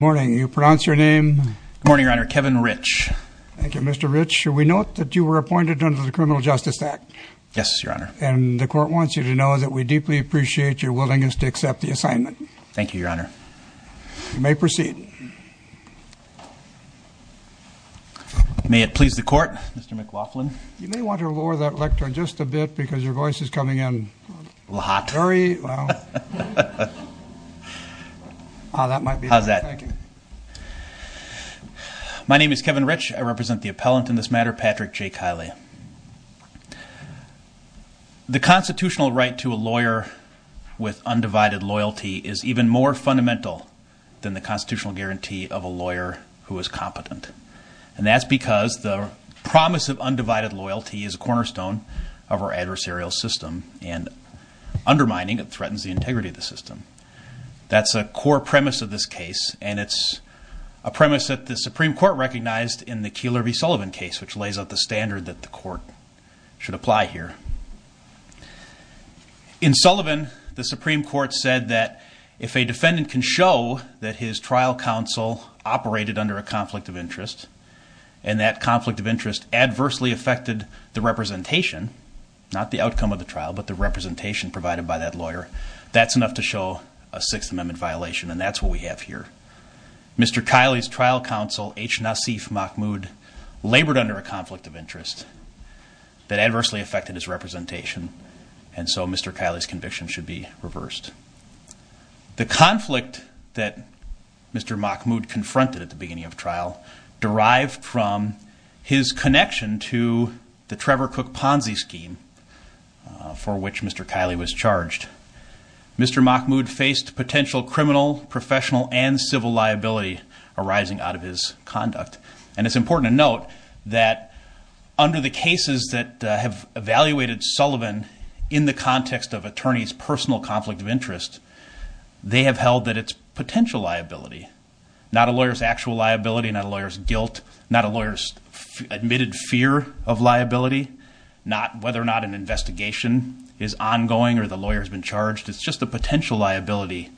morning you pronounce your name morning your honor Kevin rich thank you mr. rich should we note that you were appointed under the criminal justice act yes your honor and the court wants you to know that we deeply appreciate your willingness to accept the assignment thank you your honor you may proceed may it please the court mr. McLaughlin you may want to lower that lectern just a bit because your voice is coming in hot very how's that my name is Kevin rich I represent the appellant in this matter Patrick J Kiley the constitutional right to a lawyer with undivided loyalty is even more fundamental than the constitutional guarantee of a lawyer who is competent and that's because the promise of and undermining it threatens the integrity of the system that's a core premise of this case and it's a premise that the Supreme Court recognized in the keeler v Sullivan case which lays out the standard that the court should apply here in Sullivan the Supreme Court said that if a defendant can show that his trial counsel operated under a conflict of interest and that conflict of but the representation provided by that lawyer that's enough to show a Sixth Amendment violation and that's what we have here mr. Kiley's trial counsel H Nassif Mahmoud labored under a conflict of interest that adversely affected his representation and so mr. Kiley's conviction should be reversed the conflict that mr. Mahmoud confronted at the beginning of trial derived from his connection to the Trevor Cook Ponzi scheme for which mr. Kiley was charged mr. Mahmoud faced potential criminal professional and civil liability arising out of his conduct and it's important to note that under the cases that have evaluated Sullivan in the context of attorneys personal conflict of interest they have held that it's potential liability not a lawyer's actual liability not a lawyer's guilt not a whether or not an investigation is ongoing or the lawyer has been charged it's just the potential liability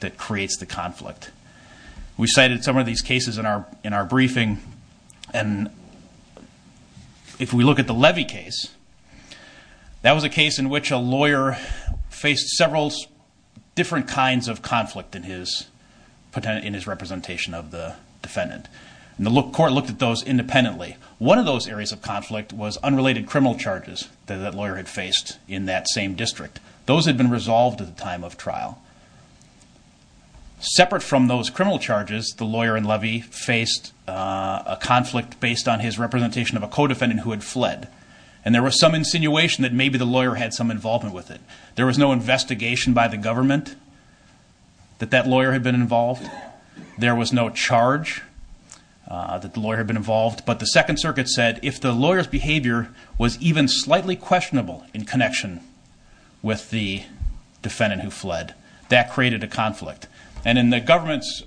that creates the conflict we cited some of these cases in our in our briefing and if we look at the levy case that was a case in which a lawyer faced several different kinds of conflict in his potent in his representation of the defendant and the look court looked at those independently one of those areas of conflict was unrelated criminal charges that lawyer had faced in that same district those had been resolved at the time of trial separate from those criminal charges the lawyer and levy faced a conflict based on his representation of a co-defendant who had fled and there was some insinuation that maybe the lawyer had some involvement with it there was no investigation by the government that that lawyer had been involved there was no charge that the lawyer had been involved but the Second slightly questionable in connection with the defendant who fled that created a conflict and in the government's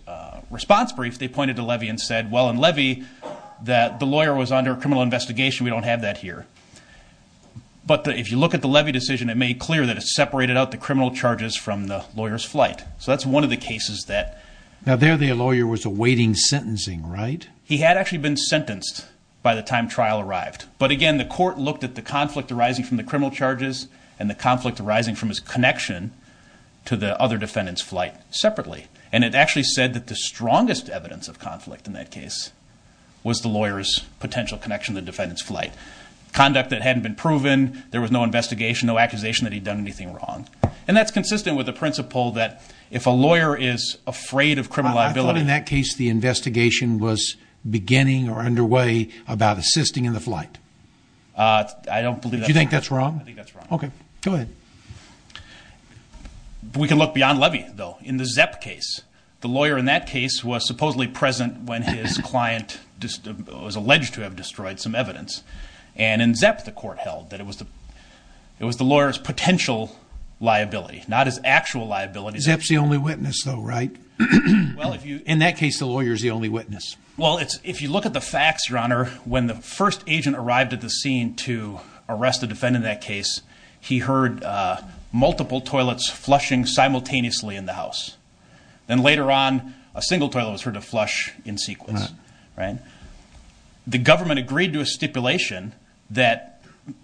response brief they pointed to levy and said well in levy that the lawyer was under a criminal investigation we don't have that here but if you look at the levy decision it made clear that it's separated out the criminal charges from the lawyers flight so that's one of the cases that now there the lawyer was awaiting sentencing right he had actually been sentenced by the time trial arrived but again the court looked at the conflict arising from the criminal charges and the conflict arising from his connection to the other defendants flight separately and it actually said that the strongest evidence of conflict in that case was the lawyers potential connection the defendants flight conduct that hadn't been proven there was no investigation no accusation that he'd done anything wrong and that's consistent with the principle that if a lawyer is afraid of criminal liability in that case the investigation was beginning or underway about assisting in the flight I don't believe you think that's wrong okay go ahead we can look beyond levy though in the ZEP case the lawyer in that case was supposedly present when his client just was alleged to have destroyed some evidence and in ZEP the court held that it was the it was the lawyers potential liability not his actual liabilities that's the only witness though right well if you in that case the lawyers the only witness well it's if you look at the facts your honor when the first agent arrived at the scene to arrest the defendant that case he heard multiple toilets flushing simultaneously in the house then later on a single toilet was heard to flush in sequence right the government agreed to a stipulation that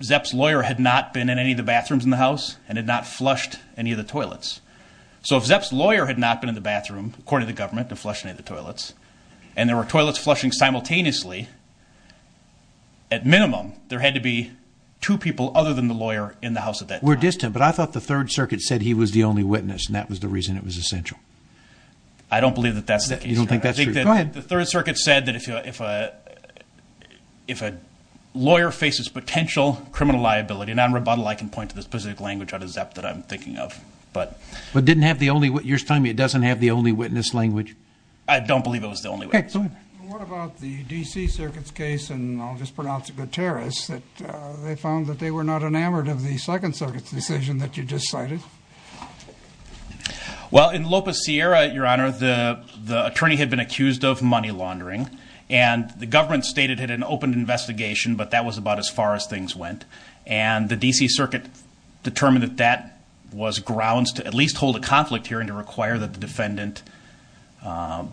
ZEP's lawyer had not been in any of the bathrooms in the house and had not flushed any of the toilets so if ZEP's lawyer had not been in the bathroom according the government to flush any the toilets and there were toilets flushing simultaneously at minimum there had to be two people other than the lawyer in the house at that we're distant but I thought the Third Circuit said he was the only witness and that was the reason it was essential I don't believe that that's that you don't think that's the Third Circuit said that if you if a if a lawyer faces potential criminal liability non-rebuttal I can point to this specific language out of ZEP that I'm thinking of but but didn't have the only what you're telling me it don't believe it was the only what about the DC Circuit's case and I'll just pronounce a good terrorist that they found that they were not enamored of the Second Circuit's decision that you just cited well in Lopez Sierra at your honor the the attorney had been accused of money laundering and the government stated had an open investigation but that was about as far as things went and the DC Circuit determined that that was grounds to at conflict hearing to require that the defendant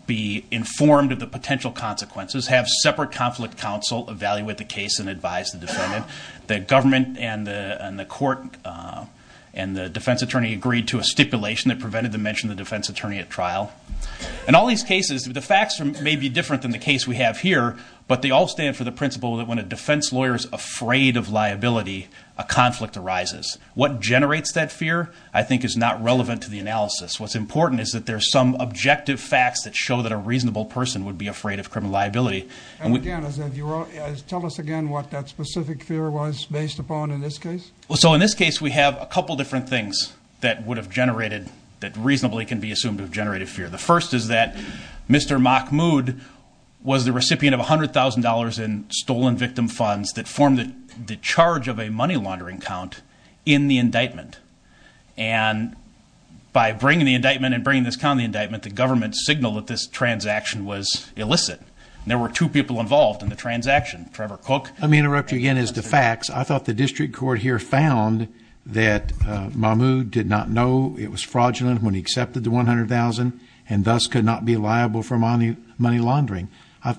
be informed of the potential consequences have separate conflict counsel evaluate the case and advise the defendant the government and the court and the defense attorney agreed to a stipulation that prevented the mention the defense attorney at trial and all these cases the facts may be different than the case we have here but they all stand for the principle that when a defense lawyer is afraid of liability a conflict arises what generates that fear I think is not relevant to the analysis what's important is that there's some objective facts that show that a reasonable person would be afraid of criminal liability tell us again what that specific fear was based upon in this case well so in this case we have a couple different things that would have generated that reasonably can be assumed of generated fear the first is that mr. Mahmood was the recipient of $100,000 in stolen victim funds that form the charge of a money laundering count in the bringing the indictment and bringing this county indictment the government signal that this transaction was illicit there were two people involved in the transaction Trevor cook let me interrupt you again is the facts I thought the district court here found that my mood did not know it was fraudulent when he accepted the $100,000 and thus could not be liable for money money laundering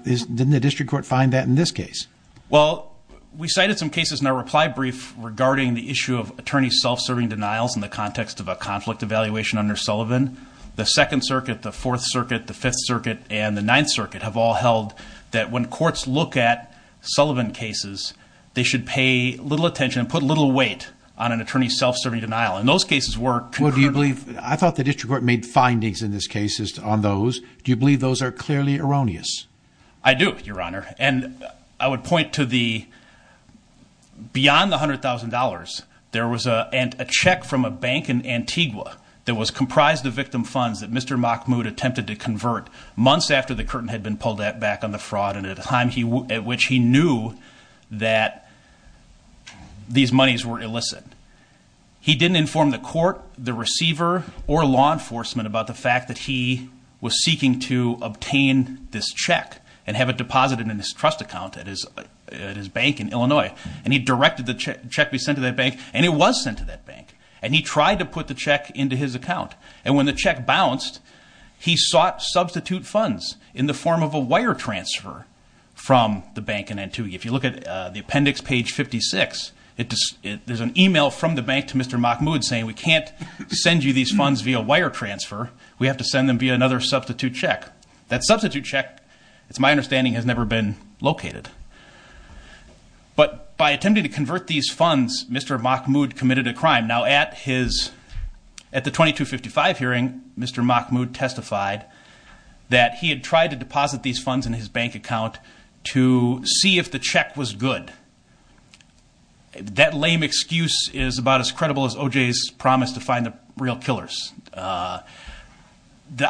is didn't the district court find that in this case well we cited some cases in a reply brief regarding the issue of attorney self-serving denials in the under Sullivan the Second Circuit the Fourth Circuit the Fifth Circuit and the Ninth Circuit have all held that when courts look at Sullivan cases they should pay little attention and put a little weight on an attorney self-serving denial and those cases were do you believe I thought the district court made findings in this case is on those do you believe those are clearly erroneous I do your honor and I would point to the beyond the hundred thousand dollars there was a and a check from a bank in Antigua that was comprised of victim funds that mr. mock mood attempted to convert months after the curtain had been pulled that back on the fraud and at a time he at which he knew that these monies were illicit he didn't inform the court the receiver or law enforcement about the fact that he was seeking to obtain this check and have it deposited in his trust account at his at his bank in Illinois and he directed the check be sent to that bank and it was sent to that bank and he tried to put the check into his account and when the check bounced he sought substitute funds in the form of a wire transfer from the bank in Antigua if you look at the appendix page 56 it there's an email from the bank to mr. mock mood saying we can't send you these funds via wire transfer we have to send them via another substitute check that substitute check it's my understanding has never been located but by attempting to convert these funds mr. mock mood committed a crime now at his at the 2255 hearing mr. mock mood testified that he had tried to deposit these funds in his bank account to see if the check was good that lame excuse is about as credible as OJ's promise to find the real killers the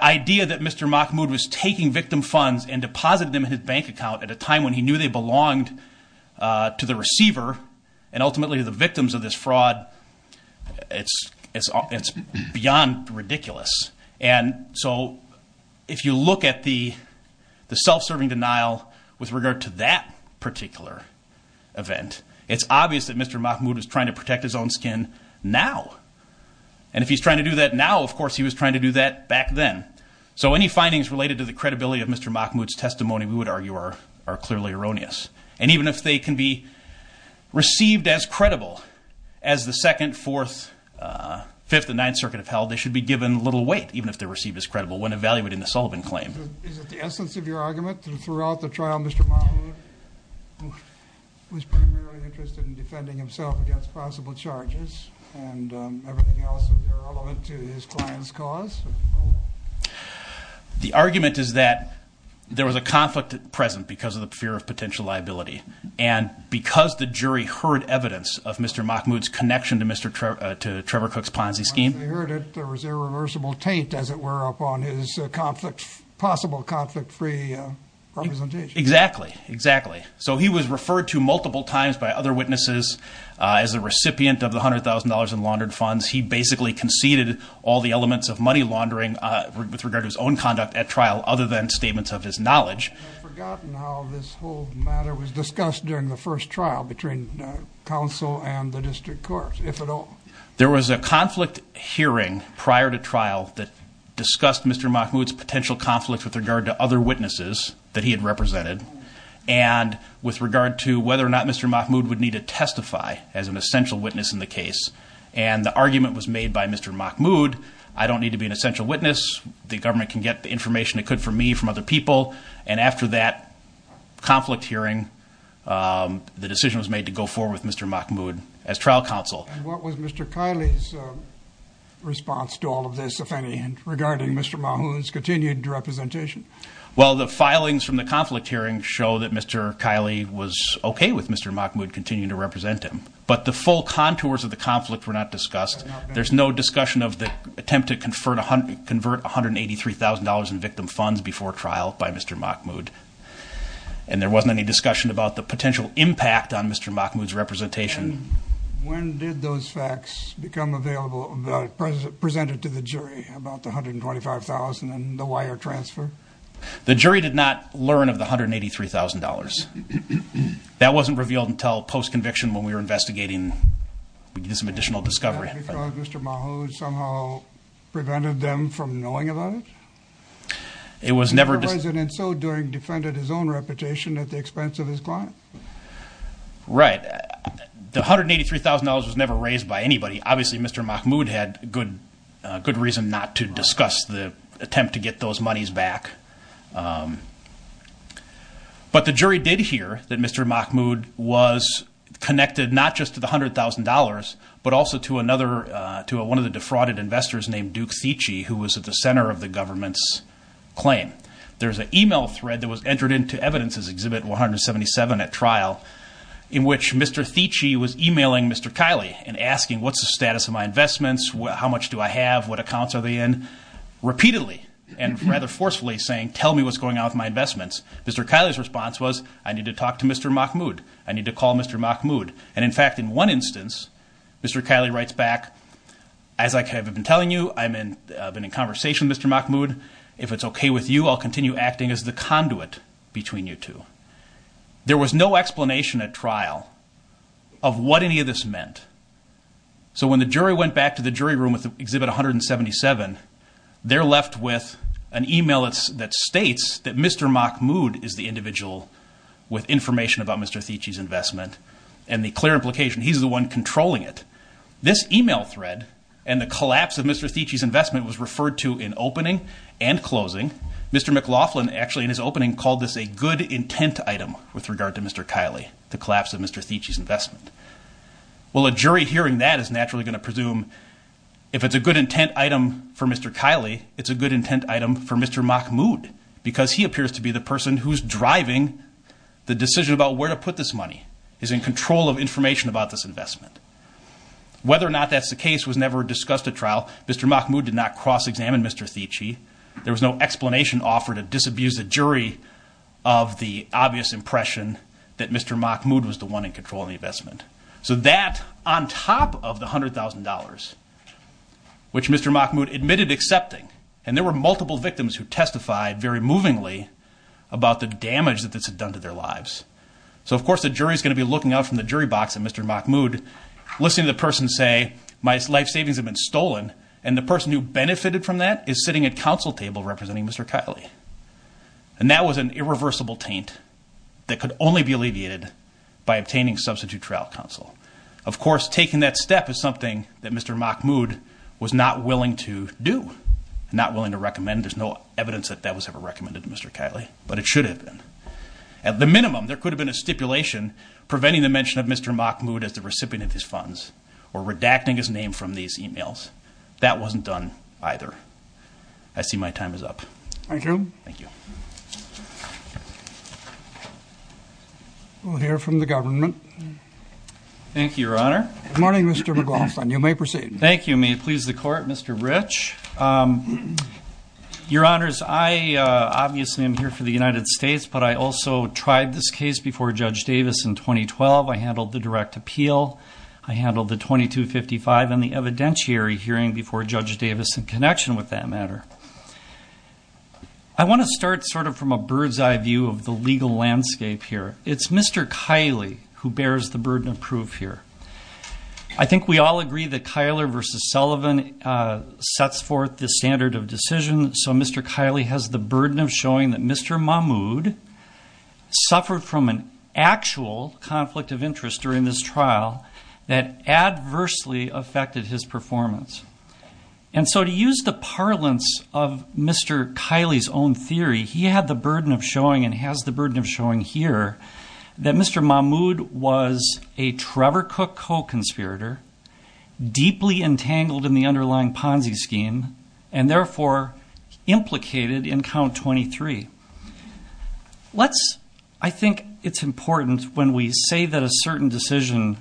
idea that mr. mock mood was taking victim funds and deposited them in his bank account at a time when he knew they belonged to the receiver and ultimately to the victims of this fraud it's it's it's beyond ridiculous and so if you look at the the self-serving denial with regard to that particular event it's obvious that mr. mock mood was trying to protect his own skin now and if he's trying to do that now of course he was trying to do that back then so any findings related to the credibility of mr. mock moods testimony we would argue are are clearly erroneous and even if they can be received as credible as the second fourth fifth and ninth circuit of hell they should be given little weight even if they're received as credible when evaluating the Sullivan claim the essence of your argument throughout the trial mr. mom was primarily interested in defending himself against possible charges and everything else irrelevant to his clients cause the argument is that there was a conflict at present because of the fear of potential liability and because the jury heard evidence of mr. mock moods connection to mr. Trevor to Trevor Cooks Ponzi scheme possible conflict-free exactly exactly so he was referred to multiple times by other witnesses as a recipient of the hundred thousand dollars in laundered funds he basically conceded all the statements of his knowledge there was a conflict hearing prior to trial that discussed mr. mock moods potential conflict with regard to other witnesses that he had represented and with regard to whether or not mr. mock mood would need to testify as an essential witness in the case and the argument was made by mr. mock mood I don't need to be an essential witness the government can get the information it could for me from other people and after that conflict hearing the decision was made to go forward with mr. mock mood as trial counsel what was mr. Kylie's response to all of this if any and regarding mr. Mahoney's continued representation well the filings from the conflict hearing show that mr. Kylie was okay with mr. mock mood continue to represent him but the full contours of the conflict were not discussed there's no discussion of the attempt to convert a hundred convert 183 thousand dollars in victim funds before trial by mr. mock mood and there wasn't any discussion about the potential impact on mr. mock moods representation the jury did not learn of the hundred and eighty three thousand dollars that wasn't revealed until post-conviction when we were investigating we do some additional discovery mr. Mahoney somehow prevented them from knowing about it it was never decided and so during defended his own reputation at the expense of his client right the hundred eighty three thousand dollars was never raised by anybody obviously mr. mock mood had good good reason not to discuss the attempt to get those monies back but the jury did hear that mr. mock mood was connected not just to the hundred thousand dollars but also to another to a one of the defrauded investors named Duke Tichy who was at the center of the government's claim there's an email thread that was entered into evidences exhibit 177 at trial in which mr. Tichy was emailing mr. Kylie and asking what's the status of my investments well how much do I have what accounts are they in repeatedly and rather forcefully saying tell me what's going on with my investments mr. Kylie's response was I need to talk to mr. mock mood I need to call mr. mock mood and in one instance mr. Kylie writes back as I have been telling you I'm in I've been in conversation mr. mock mood if it's okay with you I'll continue acting as the conduit between you two there was no explanation at trial of what any of this meant so when the jury went back to the jury room with the exhibit 177 they're left with an email it's that states that mr. mock mood is the individual with implication he's the one controlling it this email thread and the collapse of mr. Tichy's investment was referred to in opening and closing mr. McLaughlin actually in his opening called this a good intent item with regard to mr. Kylie the collapse of mr. Tichy's investment well a jury hearing that is naturally going to presume if it's a good intent item for mr. Kylie it's a good intent item for mr. mock mood because he appears to be the person who's driving the decision about where to put this money is in control of information about this investment whether or not that's the case was never discussed at trial mr. mock mood did not cross-examine mr. Tichy there was no explanation offered to disabuse the jury of the obvious impression that mr. mock mood was the one in control of the investment so that on top of the hundred thousand dollars which mr. mock mood admitted accepting and there were multiple victims who testified very movingly about the damage that this had done to their lives so of course the jury is going to be looking out from the jury box and mr. mock mood listening to the person say my life savings have been stolen and the person who benefited from that is sitting at counsel table representing mr. Kylie and that was an irreversible taint that could only be alleviated by obtaining substitute trial counsel of course taking that step is something that mr. mock mood was not willing to do not willing to recommend there's no evidence that that was ever recommended to mr. Kylie but it should have been at the minimum there could have been a stipulation preventing the mention of mr. mock mood as the recipient of his funds or redacting his name from these emails that wasn't done either I see my time is up thank you thank you we'll hear from the government thank you your honor morning mr. McLaughlin you may proceed thank you may please the court mr. rich your honors I obviously I'm here for the United States but I also tried this case before judge Davis in 2012 I handled the direct appeal I handled the 2255 and the evidentiary hearing before judge Davis in connection with that matter I want to start sort of from a bird's-eye view of the legal landscape here it's mr. Kylie who bears the burden of proof here I think we all agree that Kyler versus Sullivan sets forth the standard of decision so mr. Kylie has the burden of showing that mr. Mahmood suffered from an actual conflict of interest during this trial that adversely affected his performance and so to use the parlance of mr. Kylie's own theory he had the burden of showing and has the burden of showing here that mr. Mahmood was a Trevor cook co-conspirator deeply entangled in the let's I think it's important when we say that a certain decision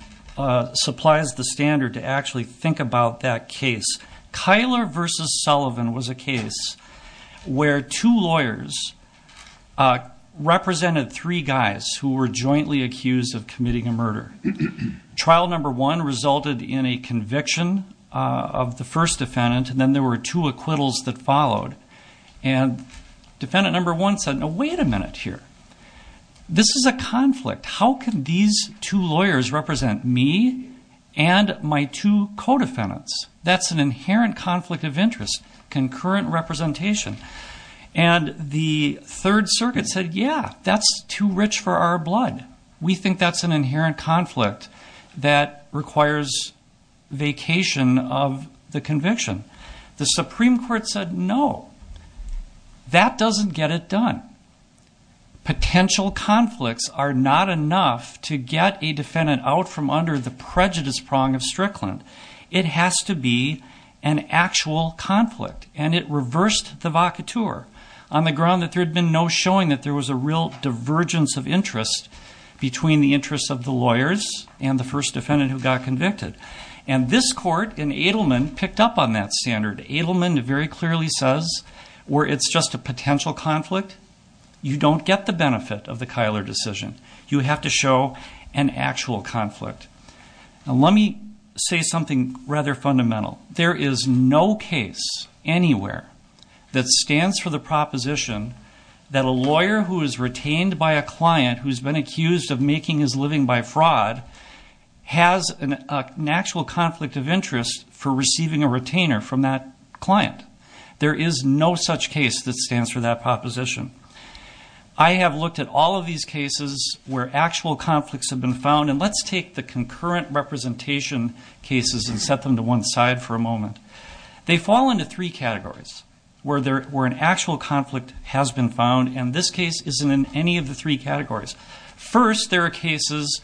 supplies the standard to actually think about that case Kyler versus Sullivan was a case where two lawyers represented three guys who were jointly accused of committing a murder trial number one resulted in a conviction of the first defendant and there were two acquittals that followed and defendant number one said no wait a minute here this is a conflict how can these two lawyers represent me and my two co-defendants that's an inherent conflict of interest concurrent representation and the Third Circuit said yeah that's too rich for our blood we think that's an inherent conflict that requires vacation of the Supreme Court said no that doesn't get it done potential conflicts are not enough to get a defendant out from under the prejudice prong of Strickland it has to be an actual conflict and it reversed the vaca tour on the ground that there had been no showing that there was a real divergence of interest between the interests of the lawyers and the first defendant who got convicted and this court in Edelman picked up on that standard Edelman very clearly says where it's just a potential conflict you don't get the benefit of the Kyler decision you have to show an actual conflict let me say something rather fundamental there is no case anywhere that stands for the proposition that a lawyer who is retained by a client who's been accused of making his living by fraud has an actual conflict of interest for receiving a retainer from that client there is no such case that stands for that proposition I have looked at all of these cases where actual conflicts have been found and let's take the concurrent representation cases and set them to one side for a moment they fall into three categories where there were an actual conflict has been found and this case isn't in any of the three categories first there are cases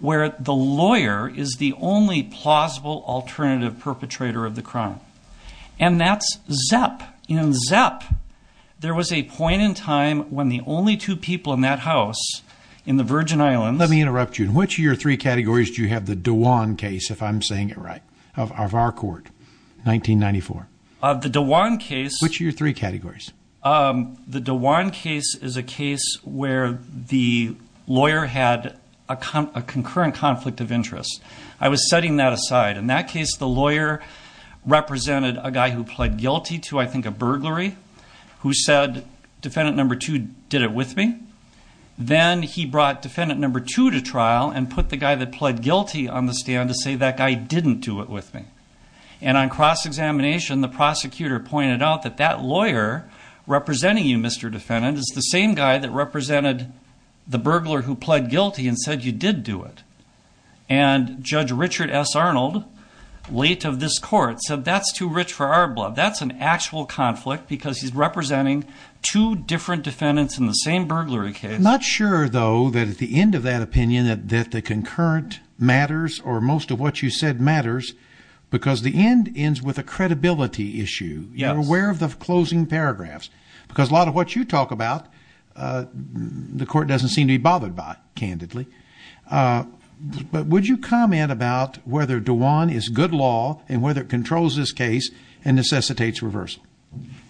where the lawyer is the only plausible alternative perpetrator of the crime and that's ZEP in ZEP there was a point in time when the only two people in that house in the Virgin Islands let me interrupt you in which of your three categories do you have the Dewan case if I'm saying it right of our court 1994 of the Dewan case which are your three categories the Dewan case is a case where the lawyer had a concurrent conflict of interest I was setting that aside in that case the lawyer represented a guy who pled guilty to I think a burglary who said defendant number two did it with me then he brought defendant number two to trial and put the guy that pled guilty on the stand to say that guy didn't do it with me and on cross-examination the prosecutor pointed out that that lawyer representing you mr. defendant is the same guy that represented the burglar who pled guilty and said you did do it and judge Richard s Arnold late of this court said that's too rich for our blood that's an actual conflict because he's representing two different defendants in the same burglary case not sure though that at the end of that opinion that that the concurrent matters or most of what you said matters because the end ends with a credibility issue yeah where of the closing paragraphs because a lot of what you talk about the court doesn't seem to be bothered by candidly but would you comment about whether Dewan is good law and whether it controls this case and necessitates reversal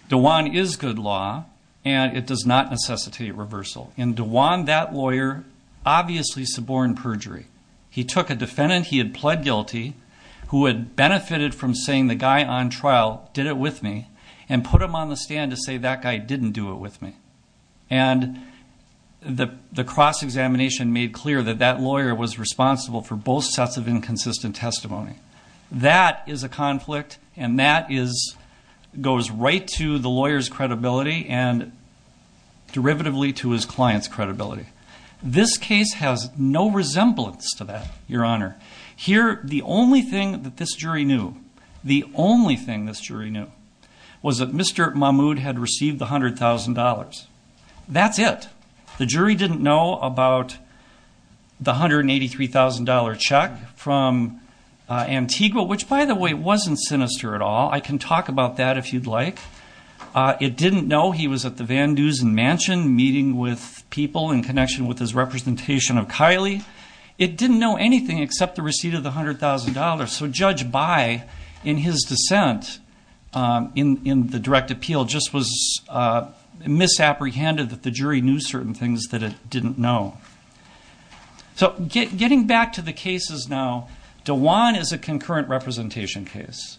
the one is good law and it does not necessitate reversal in Dewan that lawyer obviously suborn perjury he took a defendant he had pled guilty who had benefited from saying the guy on trial did it with me and put him on the stand to say that guy didn't do it with me and the cross-examination made clear that that lawyer was responsible for both sets of inconsistent testimony that is a conflict and that is goes right to the lawyers credibility and derivatively to his clients credibility this case has no resemblance to that your honor here the only thing that this jury knew the only thing this jury knew was that mr. Mahmoud had received the hundred thousand dollars that's it the jury didn't know about the hundred and eighty three thousand dollar check from Antigua which by the way it wasn't sinister at all I can talk about that if you'd like it didn't know he was at the Van Dusen mansion meeting with people in connection with his representation of Kylie it didn't know anything except the receipt of the hundred thousand dollars so judge by in his dissent in in the direct appeal just was misapprehended that the jury knew certain things that it didn't know so get getting back to the cases now Dewan is a concurrent representation case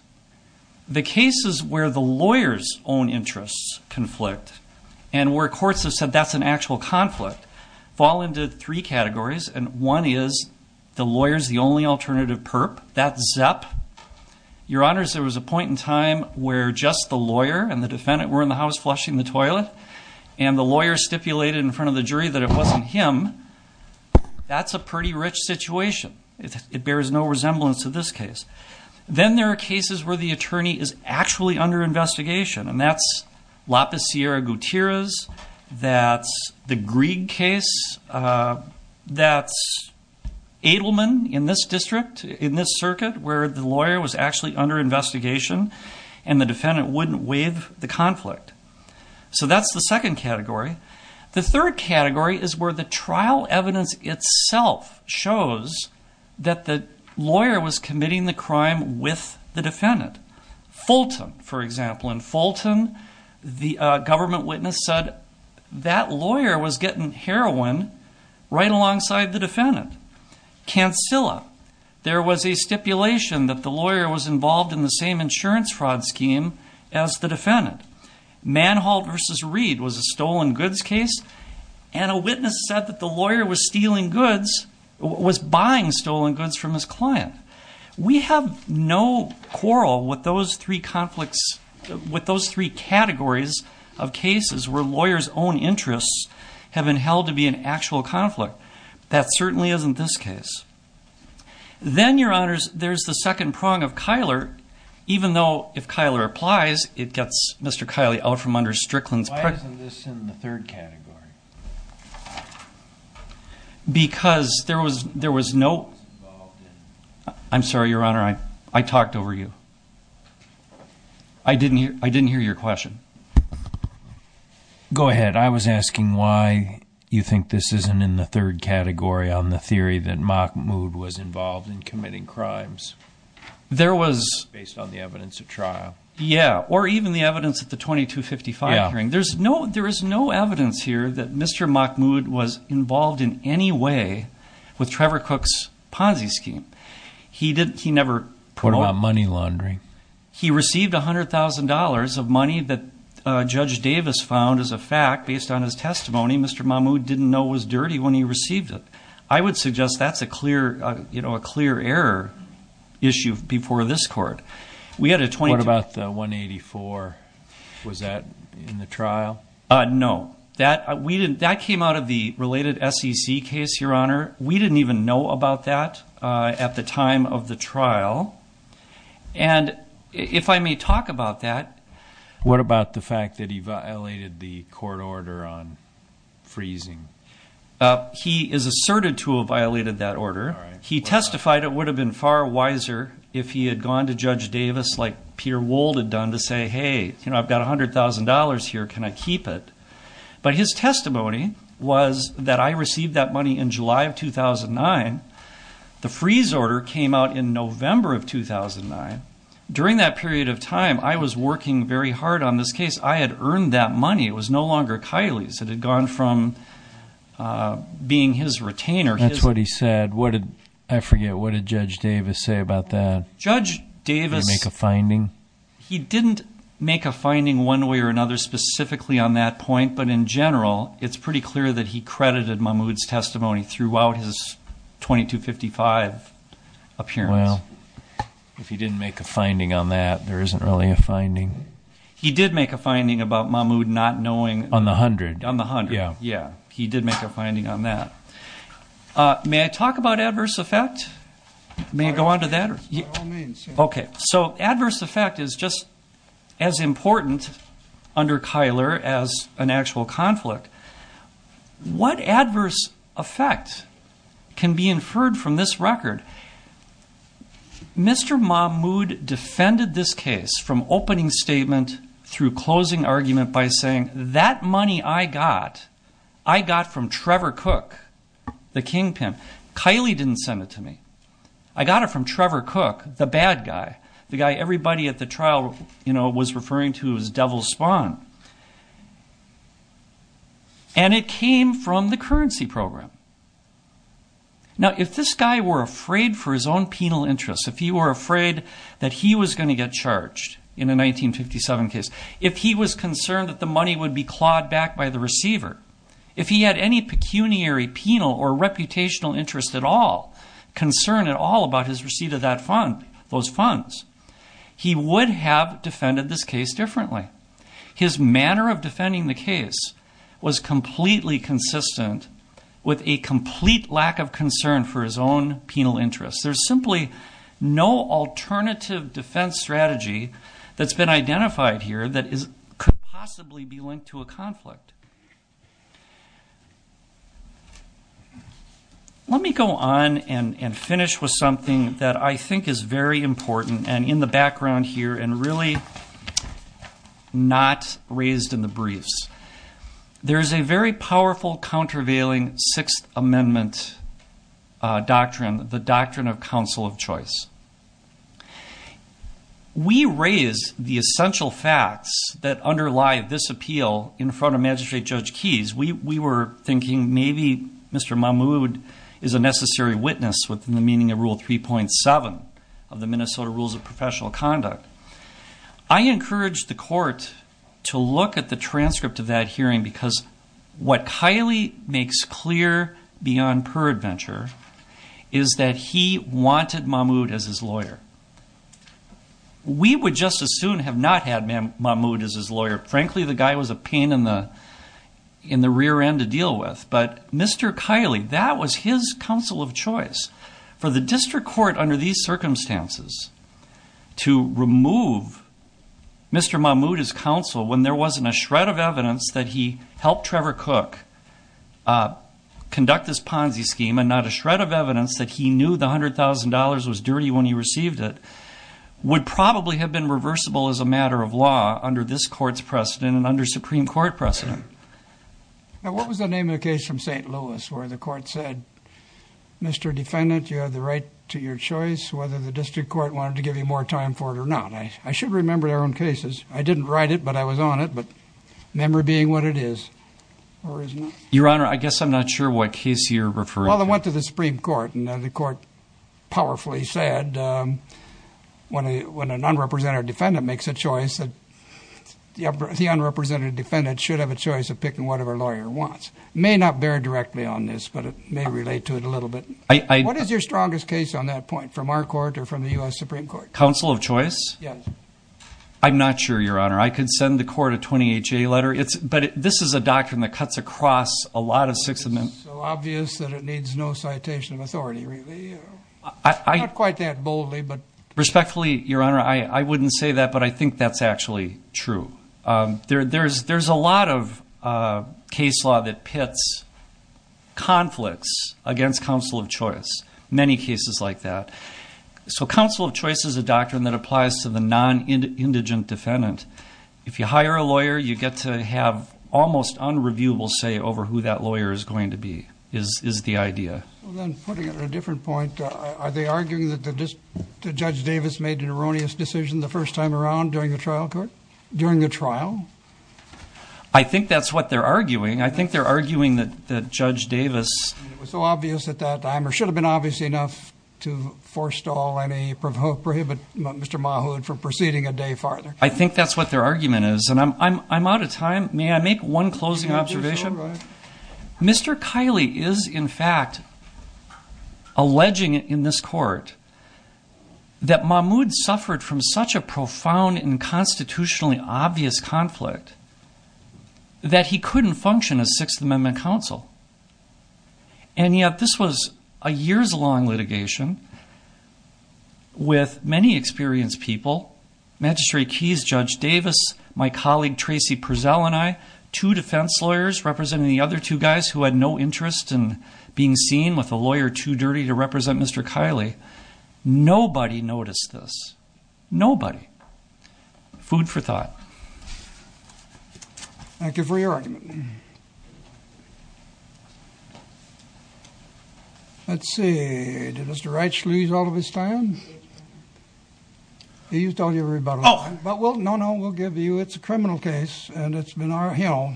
the cases where the lawyers own interests conflict and where courts have said that's an actual conflict fall into three categories and one is the lawyers the only alternative perp that's up your honors there was a time where just the lawyer and the defendant were in the house flushing the toilet and the lawyer stipulated in front of the jury that it wasn't him that's a pretty rich situation it bears no resemblance to this case then there are cases where the attorney is actually under investigation and that's lapis sierra Gutierrez that's the Greig case that's Edelman in this district in this and the defendant wouldn't waive the conflict so that's the second category the third category is where the trial evidence itself shows that the lawyer was committing the crime with the defendant Fulton for example in Fulton the government witness said that lawyer was getting heroin right alongside the defendant can still up there was a stipulation that the lawyer was involved in the same insurance fraud scheme as the defendant man hauled versus read was a stolen goods case and a witness said that the lawyer was stealing goods was buying stolen goods from his client we have no quarrel with those three conflicts with those three categories of cases where lawyers own interests have been held to be an actual conflict that certainly isn't this case then your prong of Kyler even though if Kyler applies it gets mr. Kylie out from under Strickland's third category because there was there was no I'm sorry your honor I I talked over you I didn't hear I didn't hear your question go ahead I was asking why you think this isn't in the third category on the there was based on the evidence of trial yeah or even the evidence at the 2255 hearing there's no there is no evidence here that mr. Mahmoud was involved in any way with Trevor Cook's Ponzi scheme he didn't he never put on money laundering he received a hundred thousand dollars of money that judge Davis found as a fact based on his testimony mr. Mahmoud didn't know was dirty when he received it I would suggest that's a clear you know a clear issue before this court we had a 20 about the 184 was that in the trial no that we didn't that came out of the related SEC case your honor we didn't even know about that at the time of the trial and if I may talk about that what about the fact that he violated the court order on freezing he is asserted violated that order he testified it would have been far wiser if he had gone to judge Davis like Peter Wold had done to say hey you know I've got a hundred thousand dollars here can I keep it but his testimony was that I received that money in July of 2009 the freeze order came out in November of 2009 during that period of time I was working very hard on this case I had earned that money it was no longer Kylie's it had gone from being his retainer that's what he said what did I forget what a judge Davis say about that judge Davis make a finding he didn't make a finding one way or another specifically on that point but in general it's pretty clear that he credited my moods testimony throughout his 2255 appearance if he didn't make a finding on that there isn't really a on the hundred yeah yeah he did make a finding on that may I talk about adverse effect may go on to that okay so adverse effect is just as important under Kyler as an actual conflict what adverse effect can be inferred from this record mr. Mahmood defended this case from opening statement through closing argument by saying that money I got I got from Trevor cook the kingpin Kylie didn't send it to me I got it from Trevor cook the bad guy the guy everybody at the trial you know was referring to his devil spawn and it came from the currency program now if this guy were afraid for his own penal interest if you were afraid that he was going to get charged in a 1957 case if he was concerned that the money would be clawed back by the receiver if he had any pecuniary penal or reputational interest at all concern at all about his receipt of that fund those funds he would have defended this case differently his manner of defending the case was completely consistent with a complete lack of concern for his own penal interest there's simply no alternative defense strategy that's been identified here that is possibly be linked to a conflict let me go on and finish with something that I think is very important and in the background here and really not raised in the briefs there is a very powerful countervailing Sixth Amendment doctrine the doctrine of counsel of choice we raise the essential facts that underlie this appeal in front of magistrate judge keys we were thinking maybe mr. Mahmood is a necessary witness within the meaning of rule 3.7 of the Minnesota rules of professional conduct I encourage the court to look at the transcript of that wanted Mahmood as his lawyer we would just as soon have not had Mahmood as his lawyer frankly the guy was a pain in the in the rear end to deal with but mr. Kiley that was his counsel of choice for the district court under these circumstances to remove mr. Mahmood his counsel when there wasn't a shred of evidence that he helped Trevor Cook conduct this Ponzi scheme and not a was dirty when he received it would probably have been reversible as a matter of law under this court's precedent and under Supreme Court precedent now what was the name of the case from st. Louis where the court said mr. defendant you have the right to your choice whether the district court wanted to give you more time for it or not I should remember their own cases I didn't write it but I was on it but memory being what it is your honor I guess I'm not sure what case you're referring well I went to the Supreme Court and the court powerfully said when I when an unrepresented defendant makes a choice that the unrepresented defendant should have a choice of picking whatever lawyer wants may not bear directly on this but it may relate to it a little bit I what is your strongest case on that point from our court or from the US Supreme Court counsel of choice yeah I'm not sure your honor I could send the court a 28-day letter it's but this is a doctrine that cuts across a lot of six obvious that it needs no citation of authority really I quite that boldly but respectfully your honor I I wouldn't say that but I think that's actually true there there's there's a lot of case law that pits conflicts against counsel of choice many cases like that so counsel of choice is a doctrine that applies to the non-indigent defendant if you hire a lawyer you get to have almost unreviewable say over who that lawyer is going to be is the idea are they arguing that the judge Davis made an erroneous decision the first time around during the trial court during the trial I think that's what they're arguing I think they're arguing that the judge Davis was so obvious at that time or should have been obviously enough to forestall any provoked prohibit mr. Mahood for proceeding a day farther I think that's what their argument is and I'm I'm out of time may I make one closing observation mr. Kiley is in fact alleging in this court that Mahmood suffered from such a profound and constitutionally obvious conflict that he couldn't function as Sixth Amendment counsel and yet this was a years-long litigation with many experienced people magistrate keys judge Davis my colleague Tracy Purcell and I to defense lawyers representing the other two guys who had no interest in being seen with a lawyer too dirty to represent mr. Kiley nobody noticed this nobody food for thought thank you for your argument let's see mr. actually is all of his time he used all your but we'll no no we'll give you it's a criminal case and it's been our hill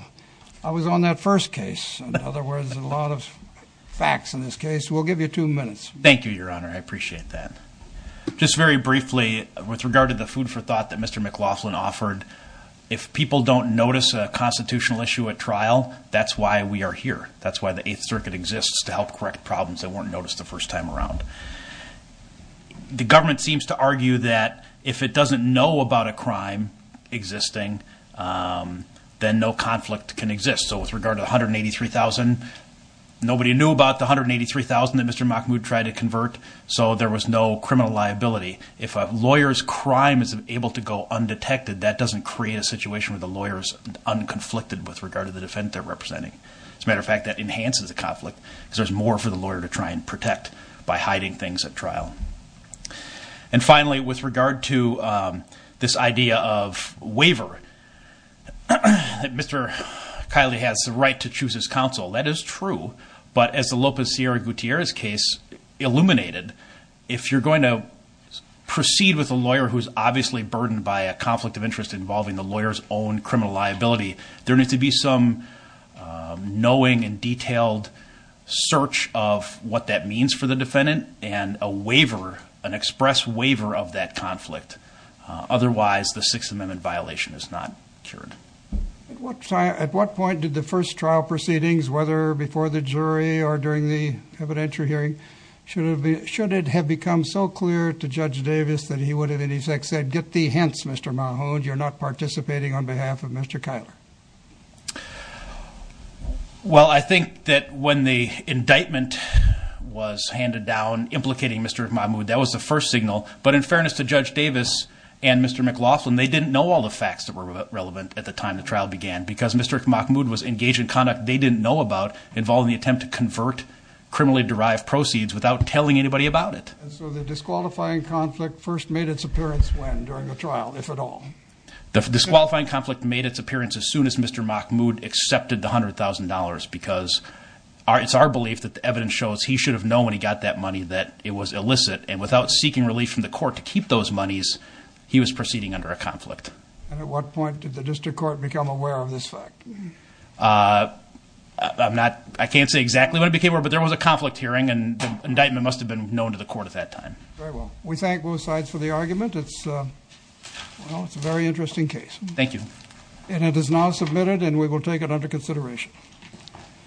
I was on that first case in other words a lot of facts in this case we'll give you two minutes thank you your honor I appreciate that just very briefly with regard to the food for thought that mr. McLaughlin offered if people don't notice a constitutional issue at trial that's why we are here that's why the Eighth Circuit exists to help correct problems that weren't noticed the first time around the government seems to argue that if it doesn't know about a crime existing then no conflict can exist so with regard to 183,000 nobody knew about the 183,000 that mr. Mahmoud tried to convert so there was no criminal liability if a lawyer's crime is able to go undetected that doesn't create a situation where the lawyers unconflicted with regard to the defendant they're representing as a matter of fact that enhances a conflict because there's more for the lawyer to try and protect by hiding things at trial and finally with regard to this idea of waiver mr. Kylie has the right to choose his counsel that is true but as the Lopez Sierra Gutierrez case illuminated if you're going to proceed with a lawyer who's obviously burdened by a conflict of interest involving the lawyers own criminal liability there be some knowing and detailed search of what that means for the defendant and a waiver an express waiver of that conflict otherwise the Sixth Amendment violation is not cured at what time at what point did the first trial proceedings whether before the jury or during the evidentiary hearing should have been should it have become so clear to judge Davis that he would have any sex said get the hints mr. Mahmoud you're not participating on behalf of mr. Kyler well I think that when the indictment was handed down implicating mr. Mahmoud that was the first signal but in fairness to judge Davis and mr. McLaughlin they didn't know all the facts that were relevant at the time the trial began because mr. Mahmoud was engaged in conduct they didn't know about involving the attempt to convert criminally derived proceeds without telling anybody about it so the disqualifying conflict first made its trial if at all the disqualifying conflict made its appearance as soon as mr. Mahmoud accepted $100,000 because it's our belief that the evidence shows he should have known when he got that money that it was illicit and without seeking relief from the court to keep those monies he was proceeding under a conflict at what point did the district court become aware of this fact I'm not I can't say exactly what it became over but there was a conflict hearing and indictment must have been known to the court at that time we thank both sides for the argument it's well it's a very interesting case thank you and it is now submitted and we will take it under consideration